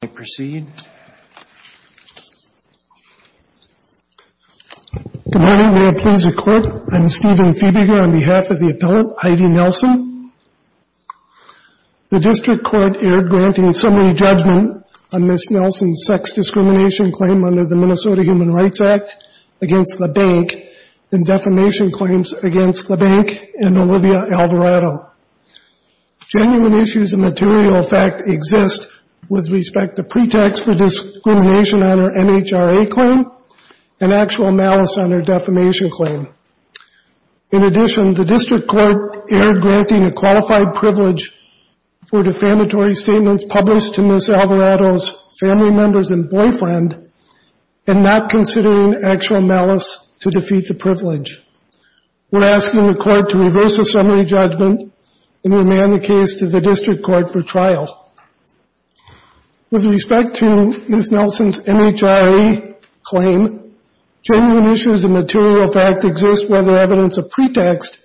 Good morning. May it please the Court, I'm Stephen Fiebiger on behalf of the appellant Heidi Nelson. The District Court erred granting summary judgment on Ms. Nelson's sex discrimination claim under the Minnesota Human Rights Act against the bank and defamation claims against the bank and Olivia Alvarado. Genuine issues of material effect exist with respect to pretext for discrimination on her NHRA claim and actual malice on her defamation claim. In addition, the District Court erred granting a qualified privilege for defamatory statements published to Ms. Alvarado's family members and boyfriend and not considering actual malice to defeat the privilege. We're asking the Court to reverse the summary judgment and remand the case to the District Court for trial. With respect to Ms. Nelson's NHRA claim, genuine issues of material fact exist whether evidence of pretext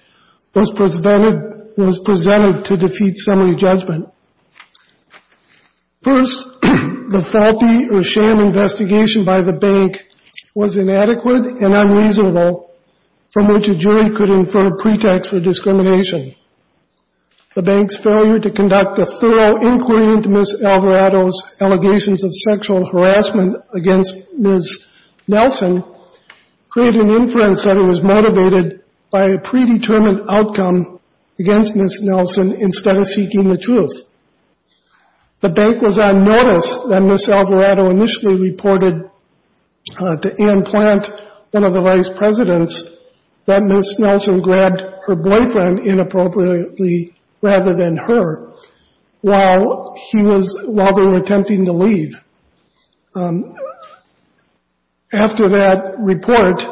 was presented to defeat summary judgment. First, the faulty or sham investigation by the bank was inadequate and unreasonable from which a jury could infer pretext for discrimination. The bank's failure to conduct a thorough inquiry into Ms. Alvarado's allegations of sexual harassment against Ms. Nelson created an inference that it was motivated by a predetermined outcome against Ms. Nelson instead of seeking the truth. The bank was on notice that Ms. Alvarado initially reported to Ann Plant, one of the vice presidents, that Ms. Nelson grabbed her boyfriend inappropriately rather than her while he was while they were attempting to leave. After that report,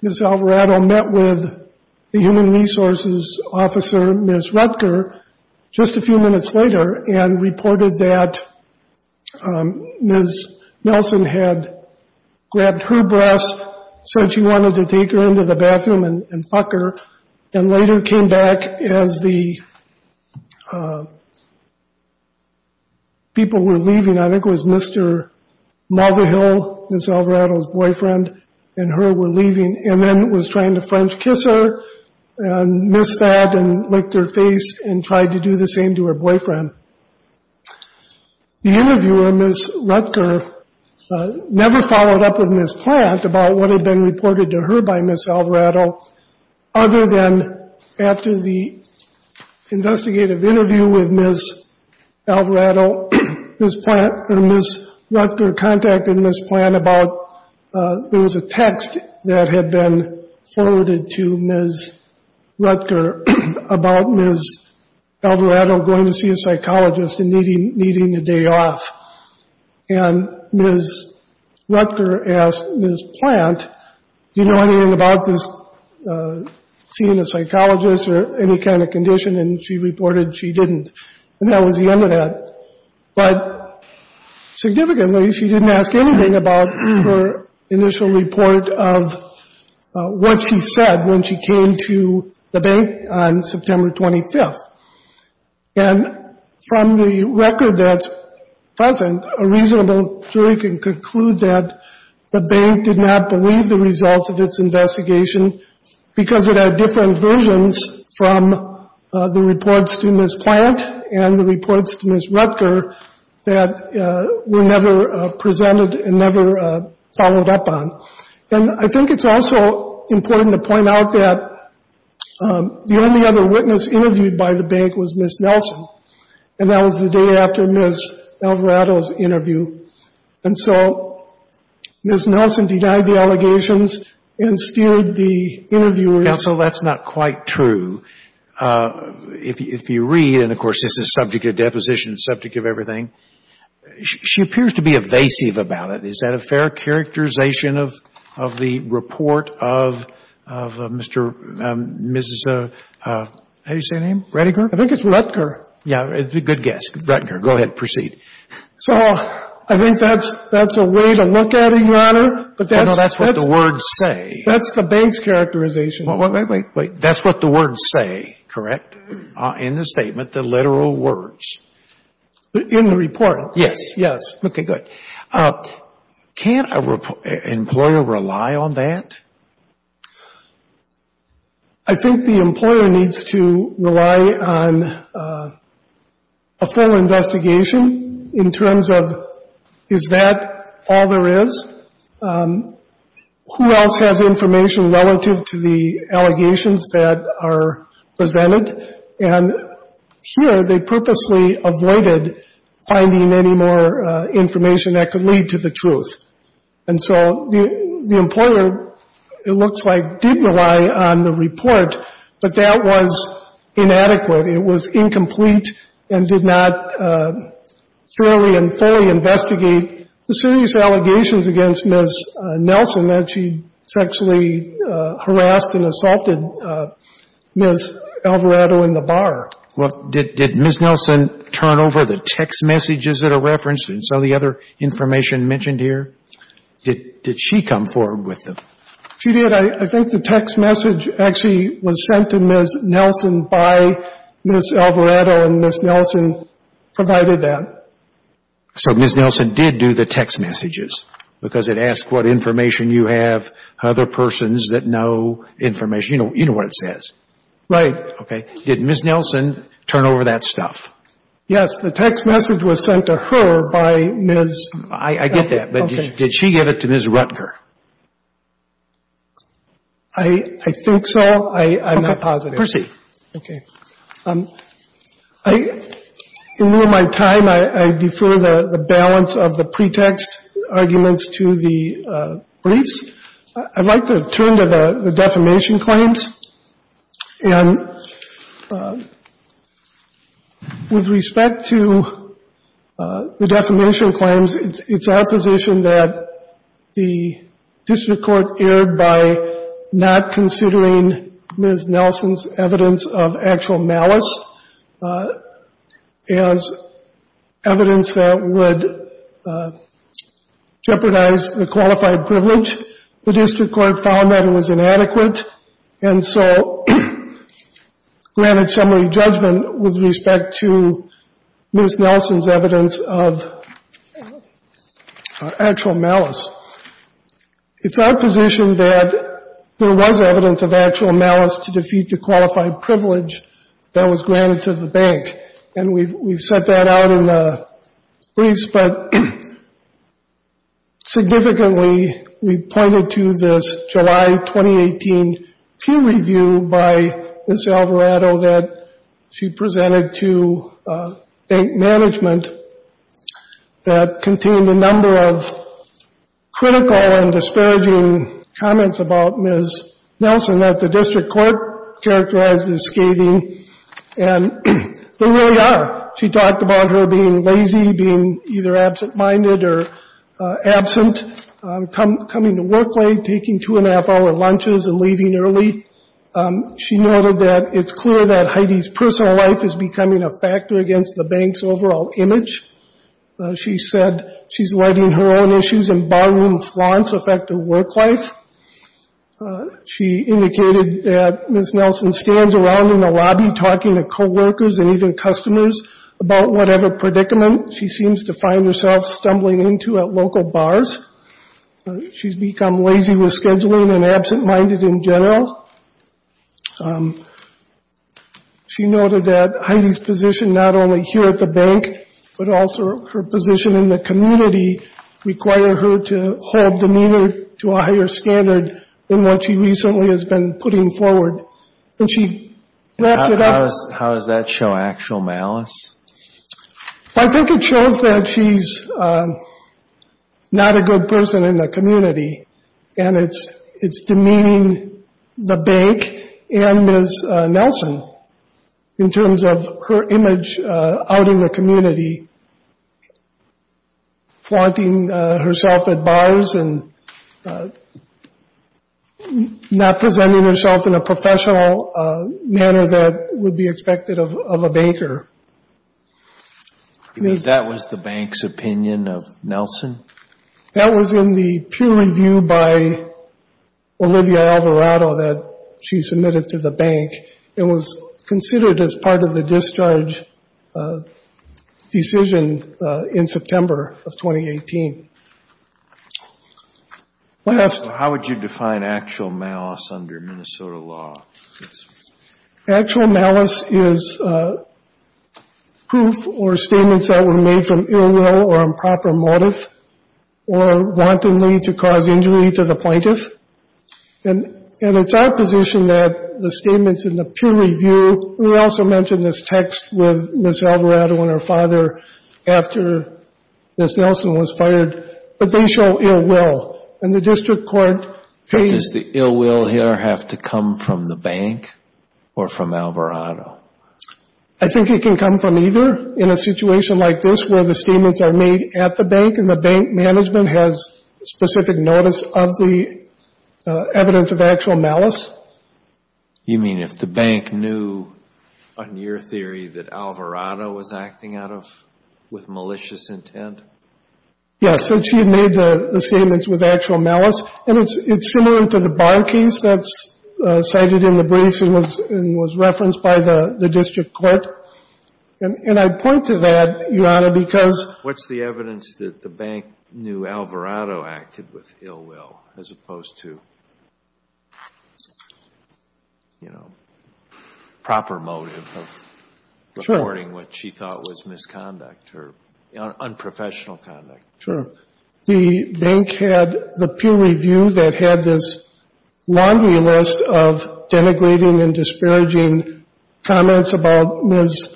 Ms. Alvarado met with the Human Resources Officer, Ms. Rutger, just a few minutes later and reported that Ms. Nelson had grabbed her breast said she wanted to take her into the bathroom and fuck her and later came back as the people were leaving. I think it was Mr. Mother Hill, Ms. Alvarado's boyfriend, and her were sad and licked her face and tried to do the same to her boyfriend. The interviewer, Ms. Rutger, never followed up with Ms. Plant about what had been reported to her by Ms. Alvarado other than after the investigative interview with Ms. Alvarado, Ms. Rutger contacted Ms. Plant about there was a text that had been forwarded to Ms. Rutger about Ms. Alvarado going to see a psychologist and needing a day off. And Ms. Rutger asked Ms. Plant, do you know anything about this seeing a psychologist or any kind of condition? And she reported she didn't. And that was the end of that. But significantly, she didn't ask anything about her initial report of what she said when she came to the bank on September 25th. And from the record that's present, a reasonable jury can conclude that the bank did not believe the results of its investigation because it had different versions from the reports to Ms. Plant and the reports to Ms. Rutger that were never presented and never followed up on. And I think it's also important to point out that the only other witness interviewed by the bank was Ms. Nelson. And that was the day after Ms. Alvarado's interview. And so Ms. Nelson denied the allegations and steered the interviewer. Counsel, that's not quite true. If you read, and, of course, this is subject of deposition, subject of everything, she appears to be evasive about it. Is that a fair characterization of the report of Mr. and Mrs. How do you say her name? Rutger. I think it's Rutger. Yeah. Good guess. Rutger. Go ahead. Proceed. So I think that's a way to look at it, Your Honor. That's what the words say. That's the bank's characterization. Wait, wait, wait. That's what the words say, correct? In the statement, the literal words. In the report. Yes. Yes. Okay. Good. Can't an employer rely on that? I think the employer needs to rely on a full investigation in terms of, is that all there is? Who else has information relative to the allegations that are presented? And here, they purposely avoided finding any more information that could lead to the truth. And so the employer, it looks like, did rely on the report, but that was inadequate. It was incomplete and did not thoroughly and fully investigate the serious allegations against Ms. Nelson that she sexually harassed and assaulted Ms. Alvarado in the bar. Well, did Ms. Nelson turn over the text messages that are referenced in some of the other information mentioned here? Did she come forward with them? She did. I think the text message actually was sent to Ms. Nelson by Ms. Alvarado and Ms. Nelson provided that. So Ms. Nelson did do the text messages because it asked what information you have, other persons that know information. You know what it says. Right. Okay. Did Ms. Nelson turn over that stuff? Yes. The text message was sent to her by Ms. I get that. But did she give it to Ms. Rutger? I think so. I'm not positive. Proceed. Okay. In lieu of my time, I defer the balance of the pretext arguments to the briefs. I'd like to turn to the defamation claims. And with respect to the defamation claims, it's our position that the district court erred by not considering Ms. Nelson's evidence of actual malice as evidence that would jeopardize the qualified privilege. The district court found that it was inadequate and so granted summary judgment with respect to Ms. Nelson's evidence of actual malice. It's our position that there was evidence of actual malice to defeat the qualified privilege that was granted to the bank. And we've set that out in the briefs. But significantly, we pointed to this July 2018 peer review by Ms. Alvarado that she presented to bank management that contained a number of critical and disparaging comments about Ms. Nelson that the district court characterized as scathing. And they really are. She talked about her being lazy, being either absent-minded or absent, coming to work late, taking two and a half hour lunches and leaving early. She noted that it's clear that Heidi's personal life is becoming a factor against the bank's overall image. She said she's letting her own issues and ballroom flaunts affect her work life. She indicated that Ms. Nelson stands around in the lobby talking to co-workers and even customers about whatever predicament she seems to find herself stumbling into at local bars. She's become lazy with scheduling and absent-minded in general. She noted that Heidi's position not only here at the bank, but also her position in the community, require her to hold demeanor to a higher standard than what she recently has been putting forward. And she wrapped it up. How does that show actual malice? I think it shows that she's not a good person in the community. And it's demeaning the bank and Ms. Nelson in the community, flaunting herself at bars and not presenting herself in a professional manner that would be expected of a baker. That was the bank's opinion of Nelson? That was in the peer review by Olivia Alvarado that she submitted to the bank. It was considered as part of the discharge decision in September of 2018. How would you define actual malice under Minnesota law? Actual malice is proof or statements that were made from ill will or improper motive or wantonly to cause injury to the plaintiff. And it's our position that the statements in the peer review, we also mentioned this text with Ms. Alvarado and her father after Ms. Nelson was fired, but they show ill will. And the district court... Does the ill will here have to come from the bank or from Alvarado? I think it can come from either. In a situation like this where the statements are made at the bank and the bank management has specific notice of the evidence of actual malice. You mean if the bank knew, on your theory, that Alvarado was acting with malicious intent? Yes, since she had made the statements with actual malice. And it's similar to the bar case that's cited in the briefs and was referenced by the district court. And I point to that, Your Honor, because... What's the evidence that the bank knew Alvarado acted with ill will as opposed to, you know, proper motive of reporting what she thought was misconduct or unprofessional conduct? Sure. The bank had the peer review that had this laundry list of denigrating and disparaging comments about Ms.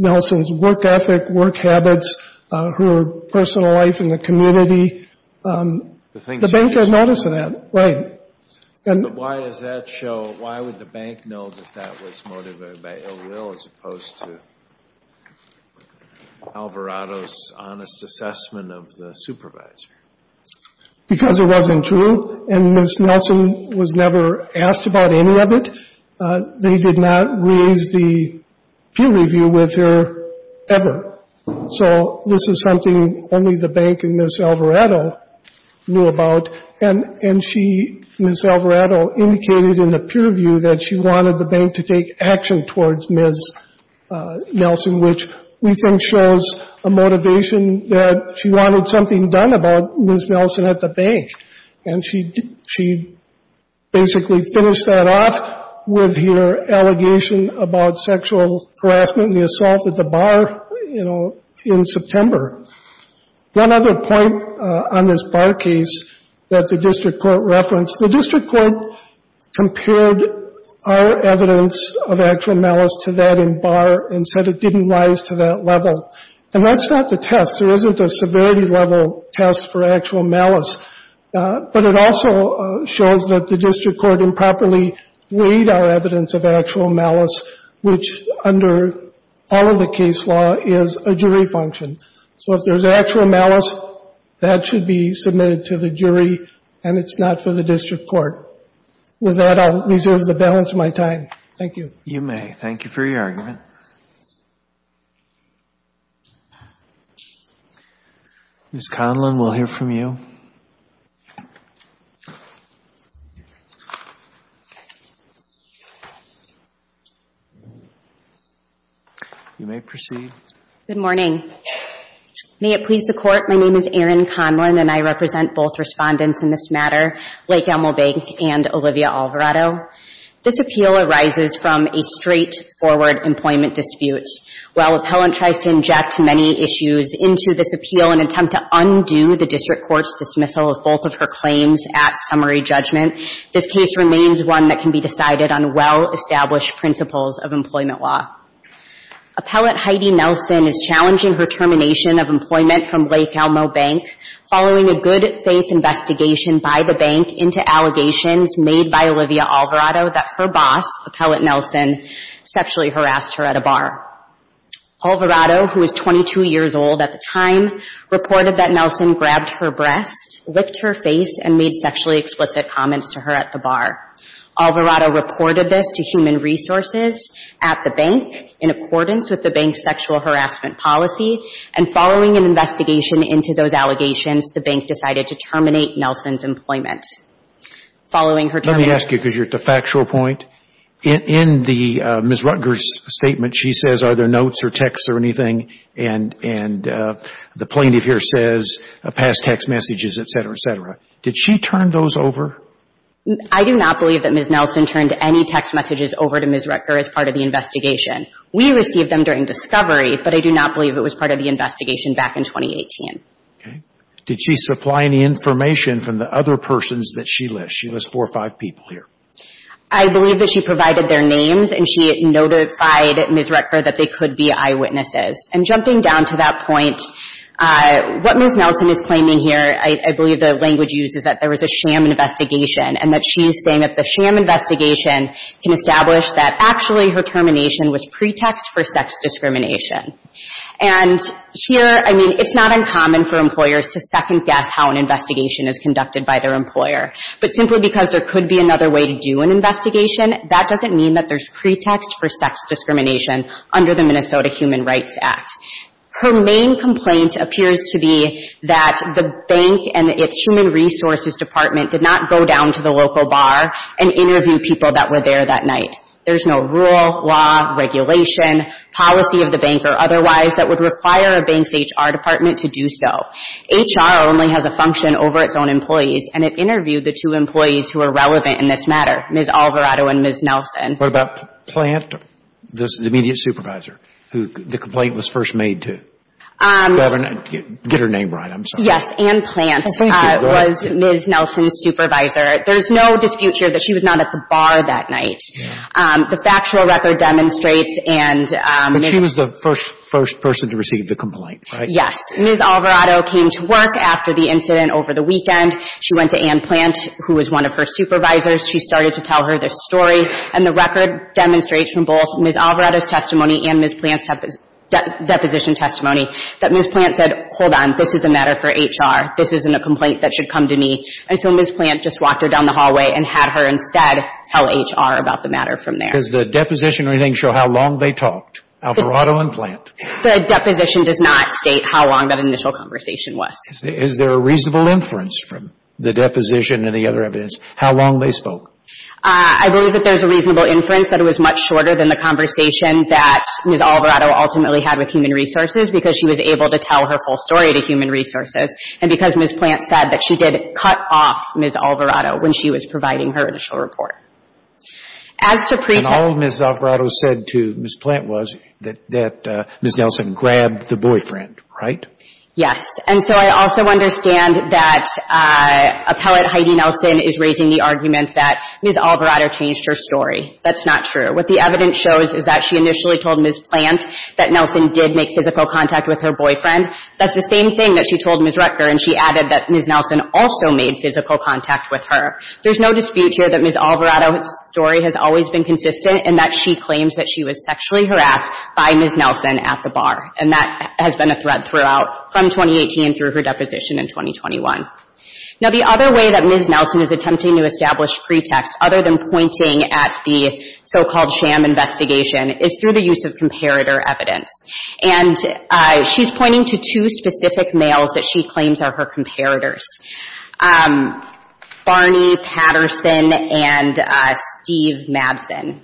Nelson's work ethic, work habits, her personal life in the community. The bank has notice of that. Right. But why does that show, why would the bank know that that was motivated by ill will as opposed to Alvarado's honest assessment of the supervisor? Because it wasn't true and Ms. Nelson was never asked about any of it. They did not raise the peer review with her ever. So this is something only the bank and Ms. Alvarado knew about. And she, Ms. Alvarado, indicated in the peer review that she wanted the bank to take action towards Ms. Nelson, which we think shows a motivation that she wanted something done about Ms. Nelson at the bank. And she basically finished that off with her allegation about sexual harassment and the assault at the bar, you know, in September. One other point on this bar case that the district court referenced, the district court compared our evidence of actual malice to that in bar and said it didn't rise to that level. And that's not the test. There isn't a severity level test for actual malice. But it also shows that the district court improperly weighed our evidence of actual malice, which under all of the case law is a jury function. So if there's actual malice, that should be submitted to the jury and it's not for the district court. With that, I'll reserve the balance of my time. Thank you. You may. Thank you for your argument. Ms. Conlon, we'll hear from you. You may proceed. Good morning. May it please the court, my name is Erin Conlon and I represent both respondents in this matter, Blake Elmobank and Olivia Alvarado. This appeal arises from a straightforward employment dispute. While appellant tries to inject many issues into this appeal in an attempt to undo the district court's dismissal of both of her claims at summary judgment, this case remains one that can be decided on well-established principles of employment law. Appellant Heidi Nelson is challenging her termination of employment from Blake Elmobank, following a good faith investigation by the bank into allegations made by Olivia Alvarado that her boss, Appellant Nelson, sexually harassed her at a bar. Alvarado, who is 22 years old at the time, reported that Nelson grabbed her breast, licked her face and made sexually explicit comments to her at the bar. Alvarado reported this to human resources at the bank in accordance with the bank's sexual harassment policy and following an investigation into those allegations, the bank decided to terminate Nelson's employment. Following her termination. Let me ask you, because you're at the factual point, in Ms. Rutger's statement, she says, are there notes or texts or anything? And the plaintiff here says, pass text messages, et cetera, et cetera. Did she turn those over? I do not believe that Ms. Nelson turned any text messages over to Ms. Rutger as part of the investigation. We received them during discovery, but I do not believe it was part of the investigation back in 2018. Did she supply any information from the other persons that she lists? She lists four or five people here. I believe that she provided their names and she notified Ms. Rutger that they could be eyewitnesses. And jumping down to that point, what Ms. Nelson is claiming here, I believe the language used is that there was a sham investigation and that she's saying that the sham investigation can establish that actually her termination was pretext for sex discrimination. And here, I mean, it's not uncommon for employers to second guess how an investigation is conducted by their employer. But simply because there could be another way to do an investigation, that doesn't mean that there's pretext for sex discrimination under the Minnesota Human Rights Act. Her main complaint appears to be that the bank and its human resources department did not go down to the local bar and interview people that were there that night. There's no rule, law, regulation, policy of the bank or otherwise that would require a bank's HR department to do so. HR only has a function over its own employees. And it interviewed the two employees who are relevant in this matter, Ms. Alvarado and Ms. Nelson. What about Plant, the immediate supervisor, who the complaint was first made to? Get her name right, I'm sorry. Yes, Ann Plant was Ms. Nelson's supervisor. There's no dispute here that she was not at the bar that night. The factual record demonstrates and... But she was the first person to receive the complaint, right? Yes. Ms. Alvarado came to work after the incident over the weekend. She went to Ann Plant, who was one of her supervisors. She started to tell her this story. And the record demonstrates from both Ms. Alvarado's testimony and Ms. Plant's deposition testimony that Ms. Plant said, hold on, this is a matter for HR. This isn't a complaint that should come to me. And so Ms. Plant just walked her down the hallway and had her instead tell HR about the matter from there. Does the deposition or anything show how long they talked, Alvarado and Plant? The deposition does not state how long that initial conversation was. Is there a reasonable inference from the deposition and the other evidence, how long they spoke? I believe that there's a reasonable inference that it was much shorter than the conversation that Ms. Alvarado ultimately had with Human Resources because she was able to tell her full story to Human Resources. And because Ms. Plant said that she did cut off Ms. Alvarado when she was providing her initial report. And all Ms. Alvarado said to Ms. Plant was that Ms. Nelson grabbed the boyfriend, right? Yes. And so I also understand that appellate Heidi Nelson is raising the argument that Ms. Alvarado changed her story. That's not true. What the evidence shows is that she initially told Ms. Plant that Nelson did make physical contact with her boyfriend. That's the same thing that she told Ms. Rutger and she added that Ms. Nelson also made physical contact with her. There's no dispute here that Ms. Alvarado's story has always been consistent and that she claims that she was sexually harassed by Ms. Nelson at the bar. And that has been a thread throughout, from 2018 through her deposition in 2021. Now the other way that Ms. Nelson is attempting to establish pretext, other than pointing at the so-called sham investigation, is through the use of comparator evidence. And she's pointing to two specific males that she claims are her comparators, Barney Patterson and Steve Madsen.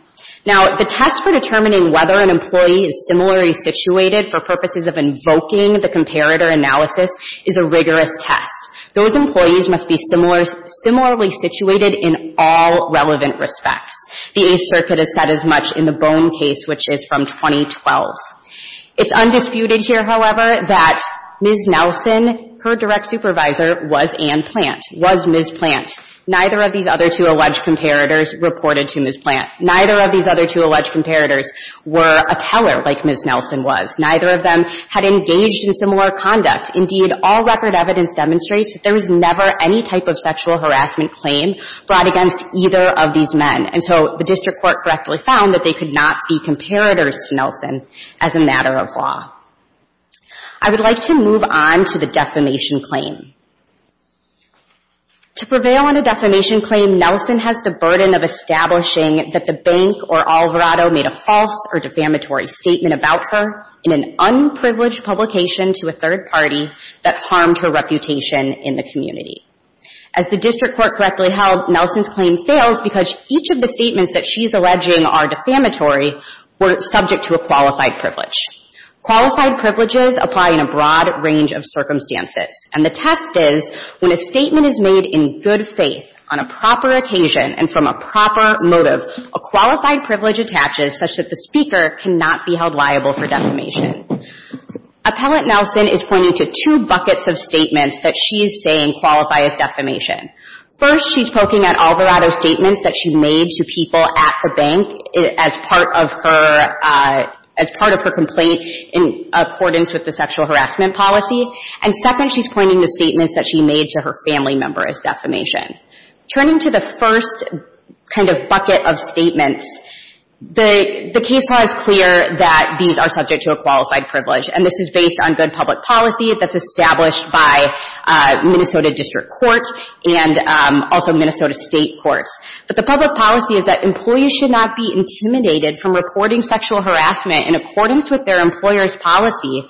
Now the test for determining whether an employee is similarly situated for purposes of invoking the comparator analysis is a rigorous test. Those employees must be similarly situated in all relevant respects. The Eighth Circuit has said as much in the Bone case, which is from 2012. It's undisputed here, however, that Ms. Nelson, her direct supervisor, was Anne Plant, was Ms. Plant. Neither of these other two alleged comparators reported to Ms. Plant. Neither of these other two alleged comparators were a teller like Ms. Nelson was. Neither of them had engaged in similar conduct. Indeed, all record evidence demonstrates that there was never any type of sexual harassment claim brought against either of these men. And so the district court correctly found that they could not be comparators to Nelson as a matter of law. I would like to move on to the defamation claim. To prevail on a defamation claim, Nelson has the burden of establishing that the bank or Alvarado made a false or defamatory statement about her in an unprivileged publication to a third party that harmed her reputation in the community. As the district court correctly held, Nelson's claim fails because each of the statements that she's alleging are defamatory were subject to a qualified privilege. Qualified privileges apply in a broad range of circumstances. And the test is, when a statement is made in good faith, on a proper occasion, and from a proper motive, a qualified privilege attaches such that the speaker cannot be held liable for defamation. Appellant Nelson is pointing to two buckets of statements that she is saying qualify as defamation. First, she's poking at Alvarado's statements that she made to people at the bank as part of her complaint in accordance with the sexual harassment policy. And second, she's pointing to statements that she made to her family member as defamation. Turning to the first kind of bucket of statements, the case law is clear that these are subject to a qualified privilege. And this is based on good public policy that's established by Minnesota district courts and also Minnesota state courts. But the public policy is that employees should not be intimidated from reporting sexual harassment in accordance with their employer's policy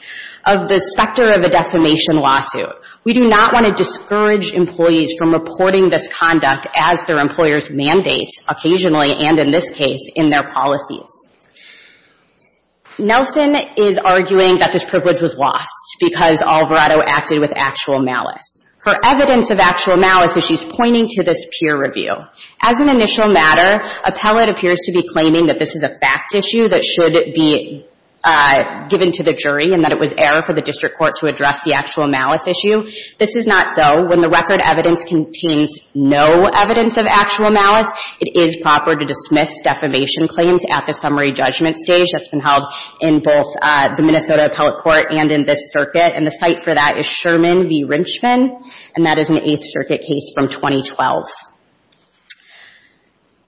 of the specter of a defamation lawsuit. We do not want to discourage employees from reporting this conduct as their employer's mandate, occasionally, and in this case, in their policies. Nelson is arguing that this privilege was lost because Alvarado acted with actual malice. For evidence of actual malice, she's pointing to this peer review. As an initial matter, appellate appears to be claiming that this is a fact issue that should be given to the jury and that it was error for the district court to address the actual malice issue. This is not so. When the record evidence contains no evidence of actual malice, it is proper to dismiss defamation claims at the summary judgment stage. That's been held in both the Minnesota appellate court and in this circuit. And the site for that is Sherman v. Rinchman, and that is an Eighth Circuit case from 2012.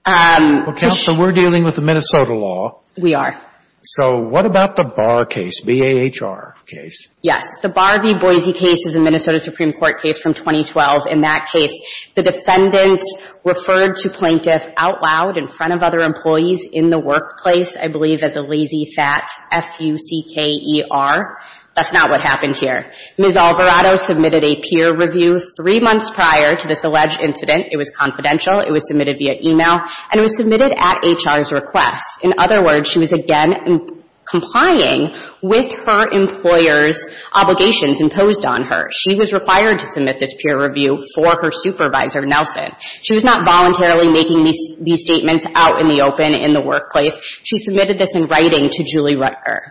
Well, Counsel, we're dealing with the Minnesota law. We are. So what about the Barr case, B-A-H-R case? Yes. The Barr v. Boise case is a Minnesota Supreme Court case from 2012. In that case, the defendant referred to plaintiff out loud in front of other employees in the workplace, I believe, as a lazy, fat F-U-C-K-E-R. That's not what happened here. Ms. Alvarado submitted a peer review three months prior to this alleged incident. It was confidential. It was submitted via email, and it was submitted at HR's request. In other words, she was, again, complying with her employer's obligations imposed on her. She was required to submit this peer review for her supervisor, Nelson. She was not voluntarily making these statements out in the open in the workplace. She submitted this in writing to Julie Rutger.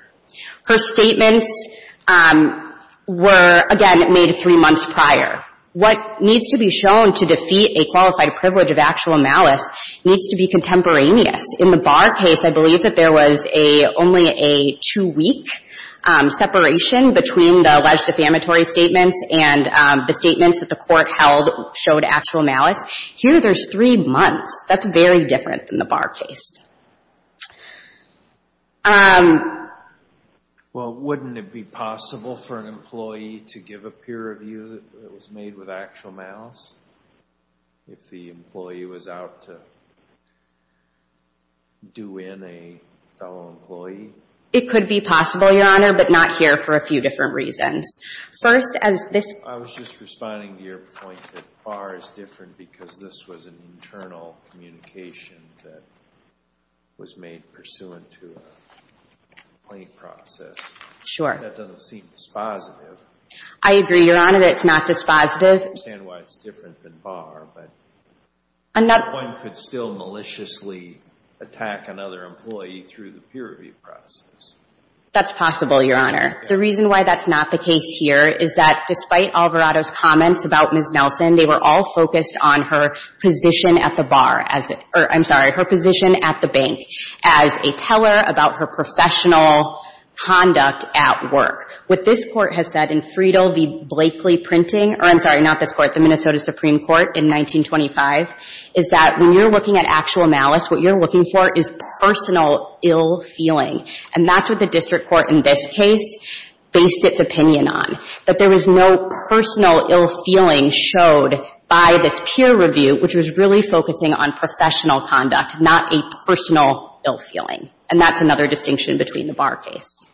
Her statements were, again, made three months prior. What needs to be shown to defeat a qualified privilege of actual malice needs to be contemporaneous. In the Barr case, I believe that there was only a two-week separation between the alleged defamatory statements and the statements that the court held showed actual malice. Here, there's three months. That's very different than the Barr case. Well, wouldn't it be possible for an employee to give a peer review that was made with actual malice if the employee was out to do in a fellow employee? It could be possible, Your Honor, but not here for a few different reasons. First, as this... I was just responding to your point that Barr is different because this was an internal communication that was made pursuant to a complaint process. Sure. That doesn't seem dispositive. I agree, Your Honor, that it's not dispositive. I don't understand why it's different than Barr, but one could still maliciously attack another employee through the peer review process. That's possible, Your Honor. The reason why that's not the case here is that despite Alvarado's comments about Ms. Nelson, they were all focused on her position at the Barr, or, I'm sorry, her position at the bank as a teller about her professional conduct at work. What this Court has said in Friedel v. Blakely Printing, or, I'm sorry, not this Court, the Minnesota Supreme Court in 1925, is that when you're looking at actual malice, what you're looking for is personal ill-feeling. And that's what the district court in this case based its opinion on, that there was no personal ill-feeling showed by this peer review, which was really focusing on professional conduct, not a personal ill-feeling. And that's another distinction between the Barr case.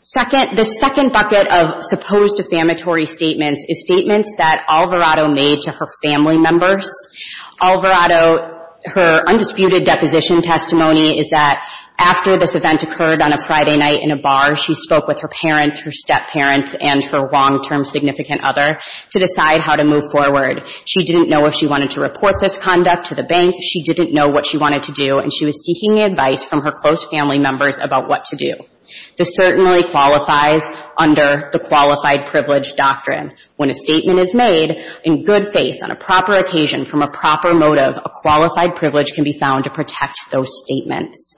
Second, the second bucket of supposed defamatory statements is statements that Alvarado made to her family members. Alvarado, her undisputed deposition testimony is that after this event occurred on a Friday night in a bar, she spoke with her parents, her step-parents, and her long-term significant other to decide how to move forward. She didn't know if she wanted to report this conduct to the bank. She didn't know what she wanted to do, and she was seeking advice from her close family members about what to do. This certainly qualifies under the qualified privilege doctrine. When a statement is made in good faith, on a proper occasion, from a proper motive, a qualified privilege can be found to protect those statements.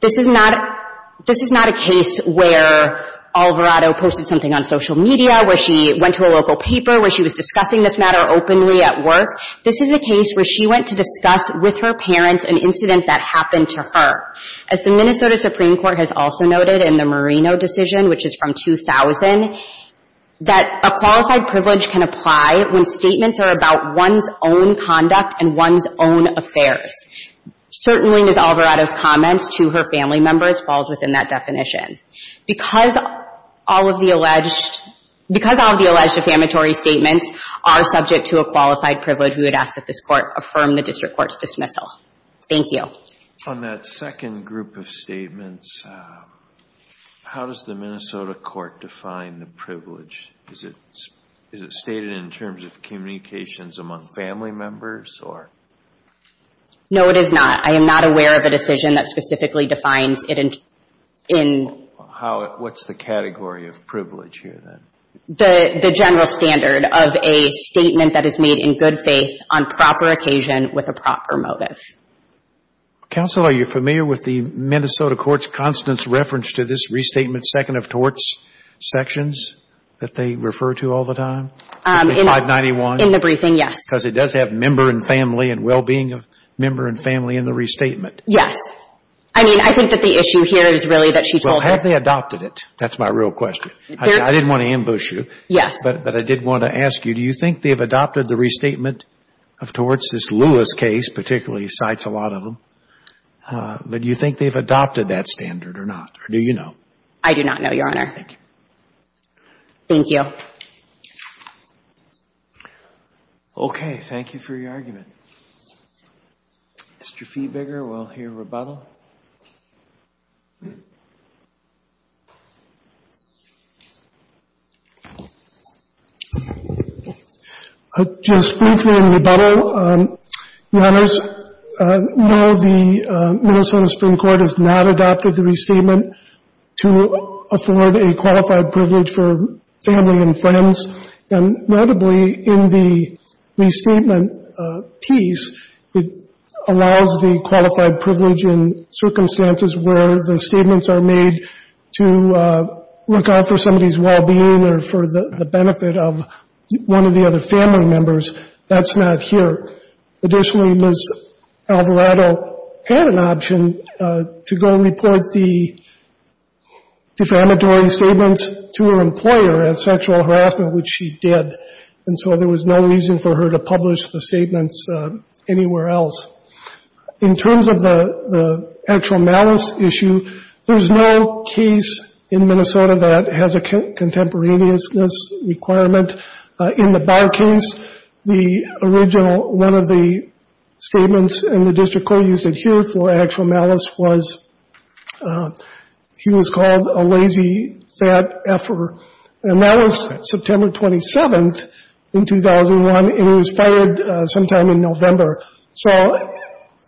This is not a case where Alvarado posted something on social media, where she went to a local paper, where she was discussing this matter openly at work. This is a case where she went to discuss with her parents an incident that happened to her. As the Minnesota Supreme Court has also noted in the Marino decision, which is from 2000, that a qualified privilege can apply when statements are about one's own conduct and one's own affairs. Certainly Ms. Alvarado's comments to her family members falls within that definition. Because all of the alleged infamatory statements are subject to a qualified privilege, we would ask that this court affirm the district court's dismissal. Thank you. On that second group of statements, how does the Minnesota court define the privilege? Is it stated in terms of communications among family members? No, it is not. I am not aware of a decision that specifically defines it in. What's the category of privilege here then? The general standard of a statement that is made in good faith, on proper occasion, with a proper motive. Counsel, are you familiar with the Minnesota court's Constance reference to this restatement second of torts sections that they refer to all the time? In 591? In the briefing, yes. Because it does have member and family and well-being of member and family in the restatement. Yes. I mean, I think that the issue here is really that she told her. Well, have they adopted it? That's my real question. I didn't want to ambush you. Yes. But I did want to ask you, do you think they've adopted the restatement of torts? This Lewis case particularly cites a lot of them. But do you think they've adopted that standard or not? Or do you know? I do not know, Your Honor. Thank you. Thank you. Thank you. Okay. Thank you for your argument. Mr. Fiebiger, we'll hear rebuttal. Just briefly in rebuttal, Your Honors, no, the Minnesota Supreme Court has not adopted the restatement to afford a qualified privilege for family and friends. And notably in the restatement piece, it allows the qualified privilege in circumstances where the statements are made to look out for somebody's well-being or for the benefit of one of the other family members. That's not here. Additionally, Ms. Alvarado had an option to go report the defamatory statement to her employer as sexual harassment, which she did. And so there was no reason for her to publish the statements anywhere else. In terms of the actual malice issue, there's no case in Minnesota that has a contemporaneous requirement. In the Barr case, the original one of the statements, and the district court used it here for actual malice, was he was called a lazy, fat efferer. And that was September 27th in 2001, and it was fired sometime in November. So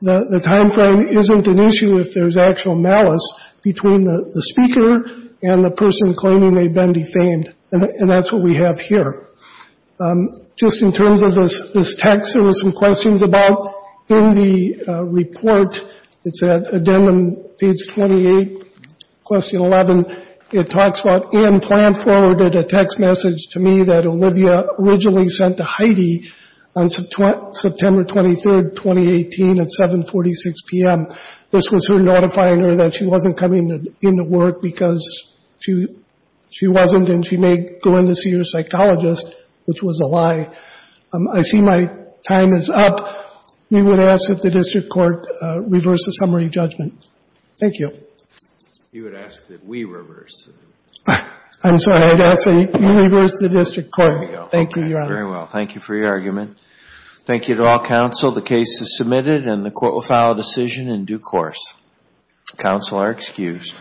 the timeframe isn't an issue if there's actual malice between the speaker and the person claiming they've been defamed. And that's what we have here. Just in terms of this text, there were some questions about in the report. It's at the end on page 28, question 11. It talks about, and plan forwarded a text message to me that Olivia originally sent to Heidi on September 23rd, 2018 at 7.46 p.m. This was her notifying her that she wasn't coming into work because she wasn't and she may go in to see her psychologist, which was a lie. I see my time is up. We would ask that the district court reverse the summary judgment. Thank you. You would ask that we reverse it. I'm sorry. I'd ask that you reverse the district court. Thank you, Your Honor. Very well. Thank you for your argument. Thank you to all counsel. The case is submitted and the court will file a decision in due course. Counsel are excused.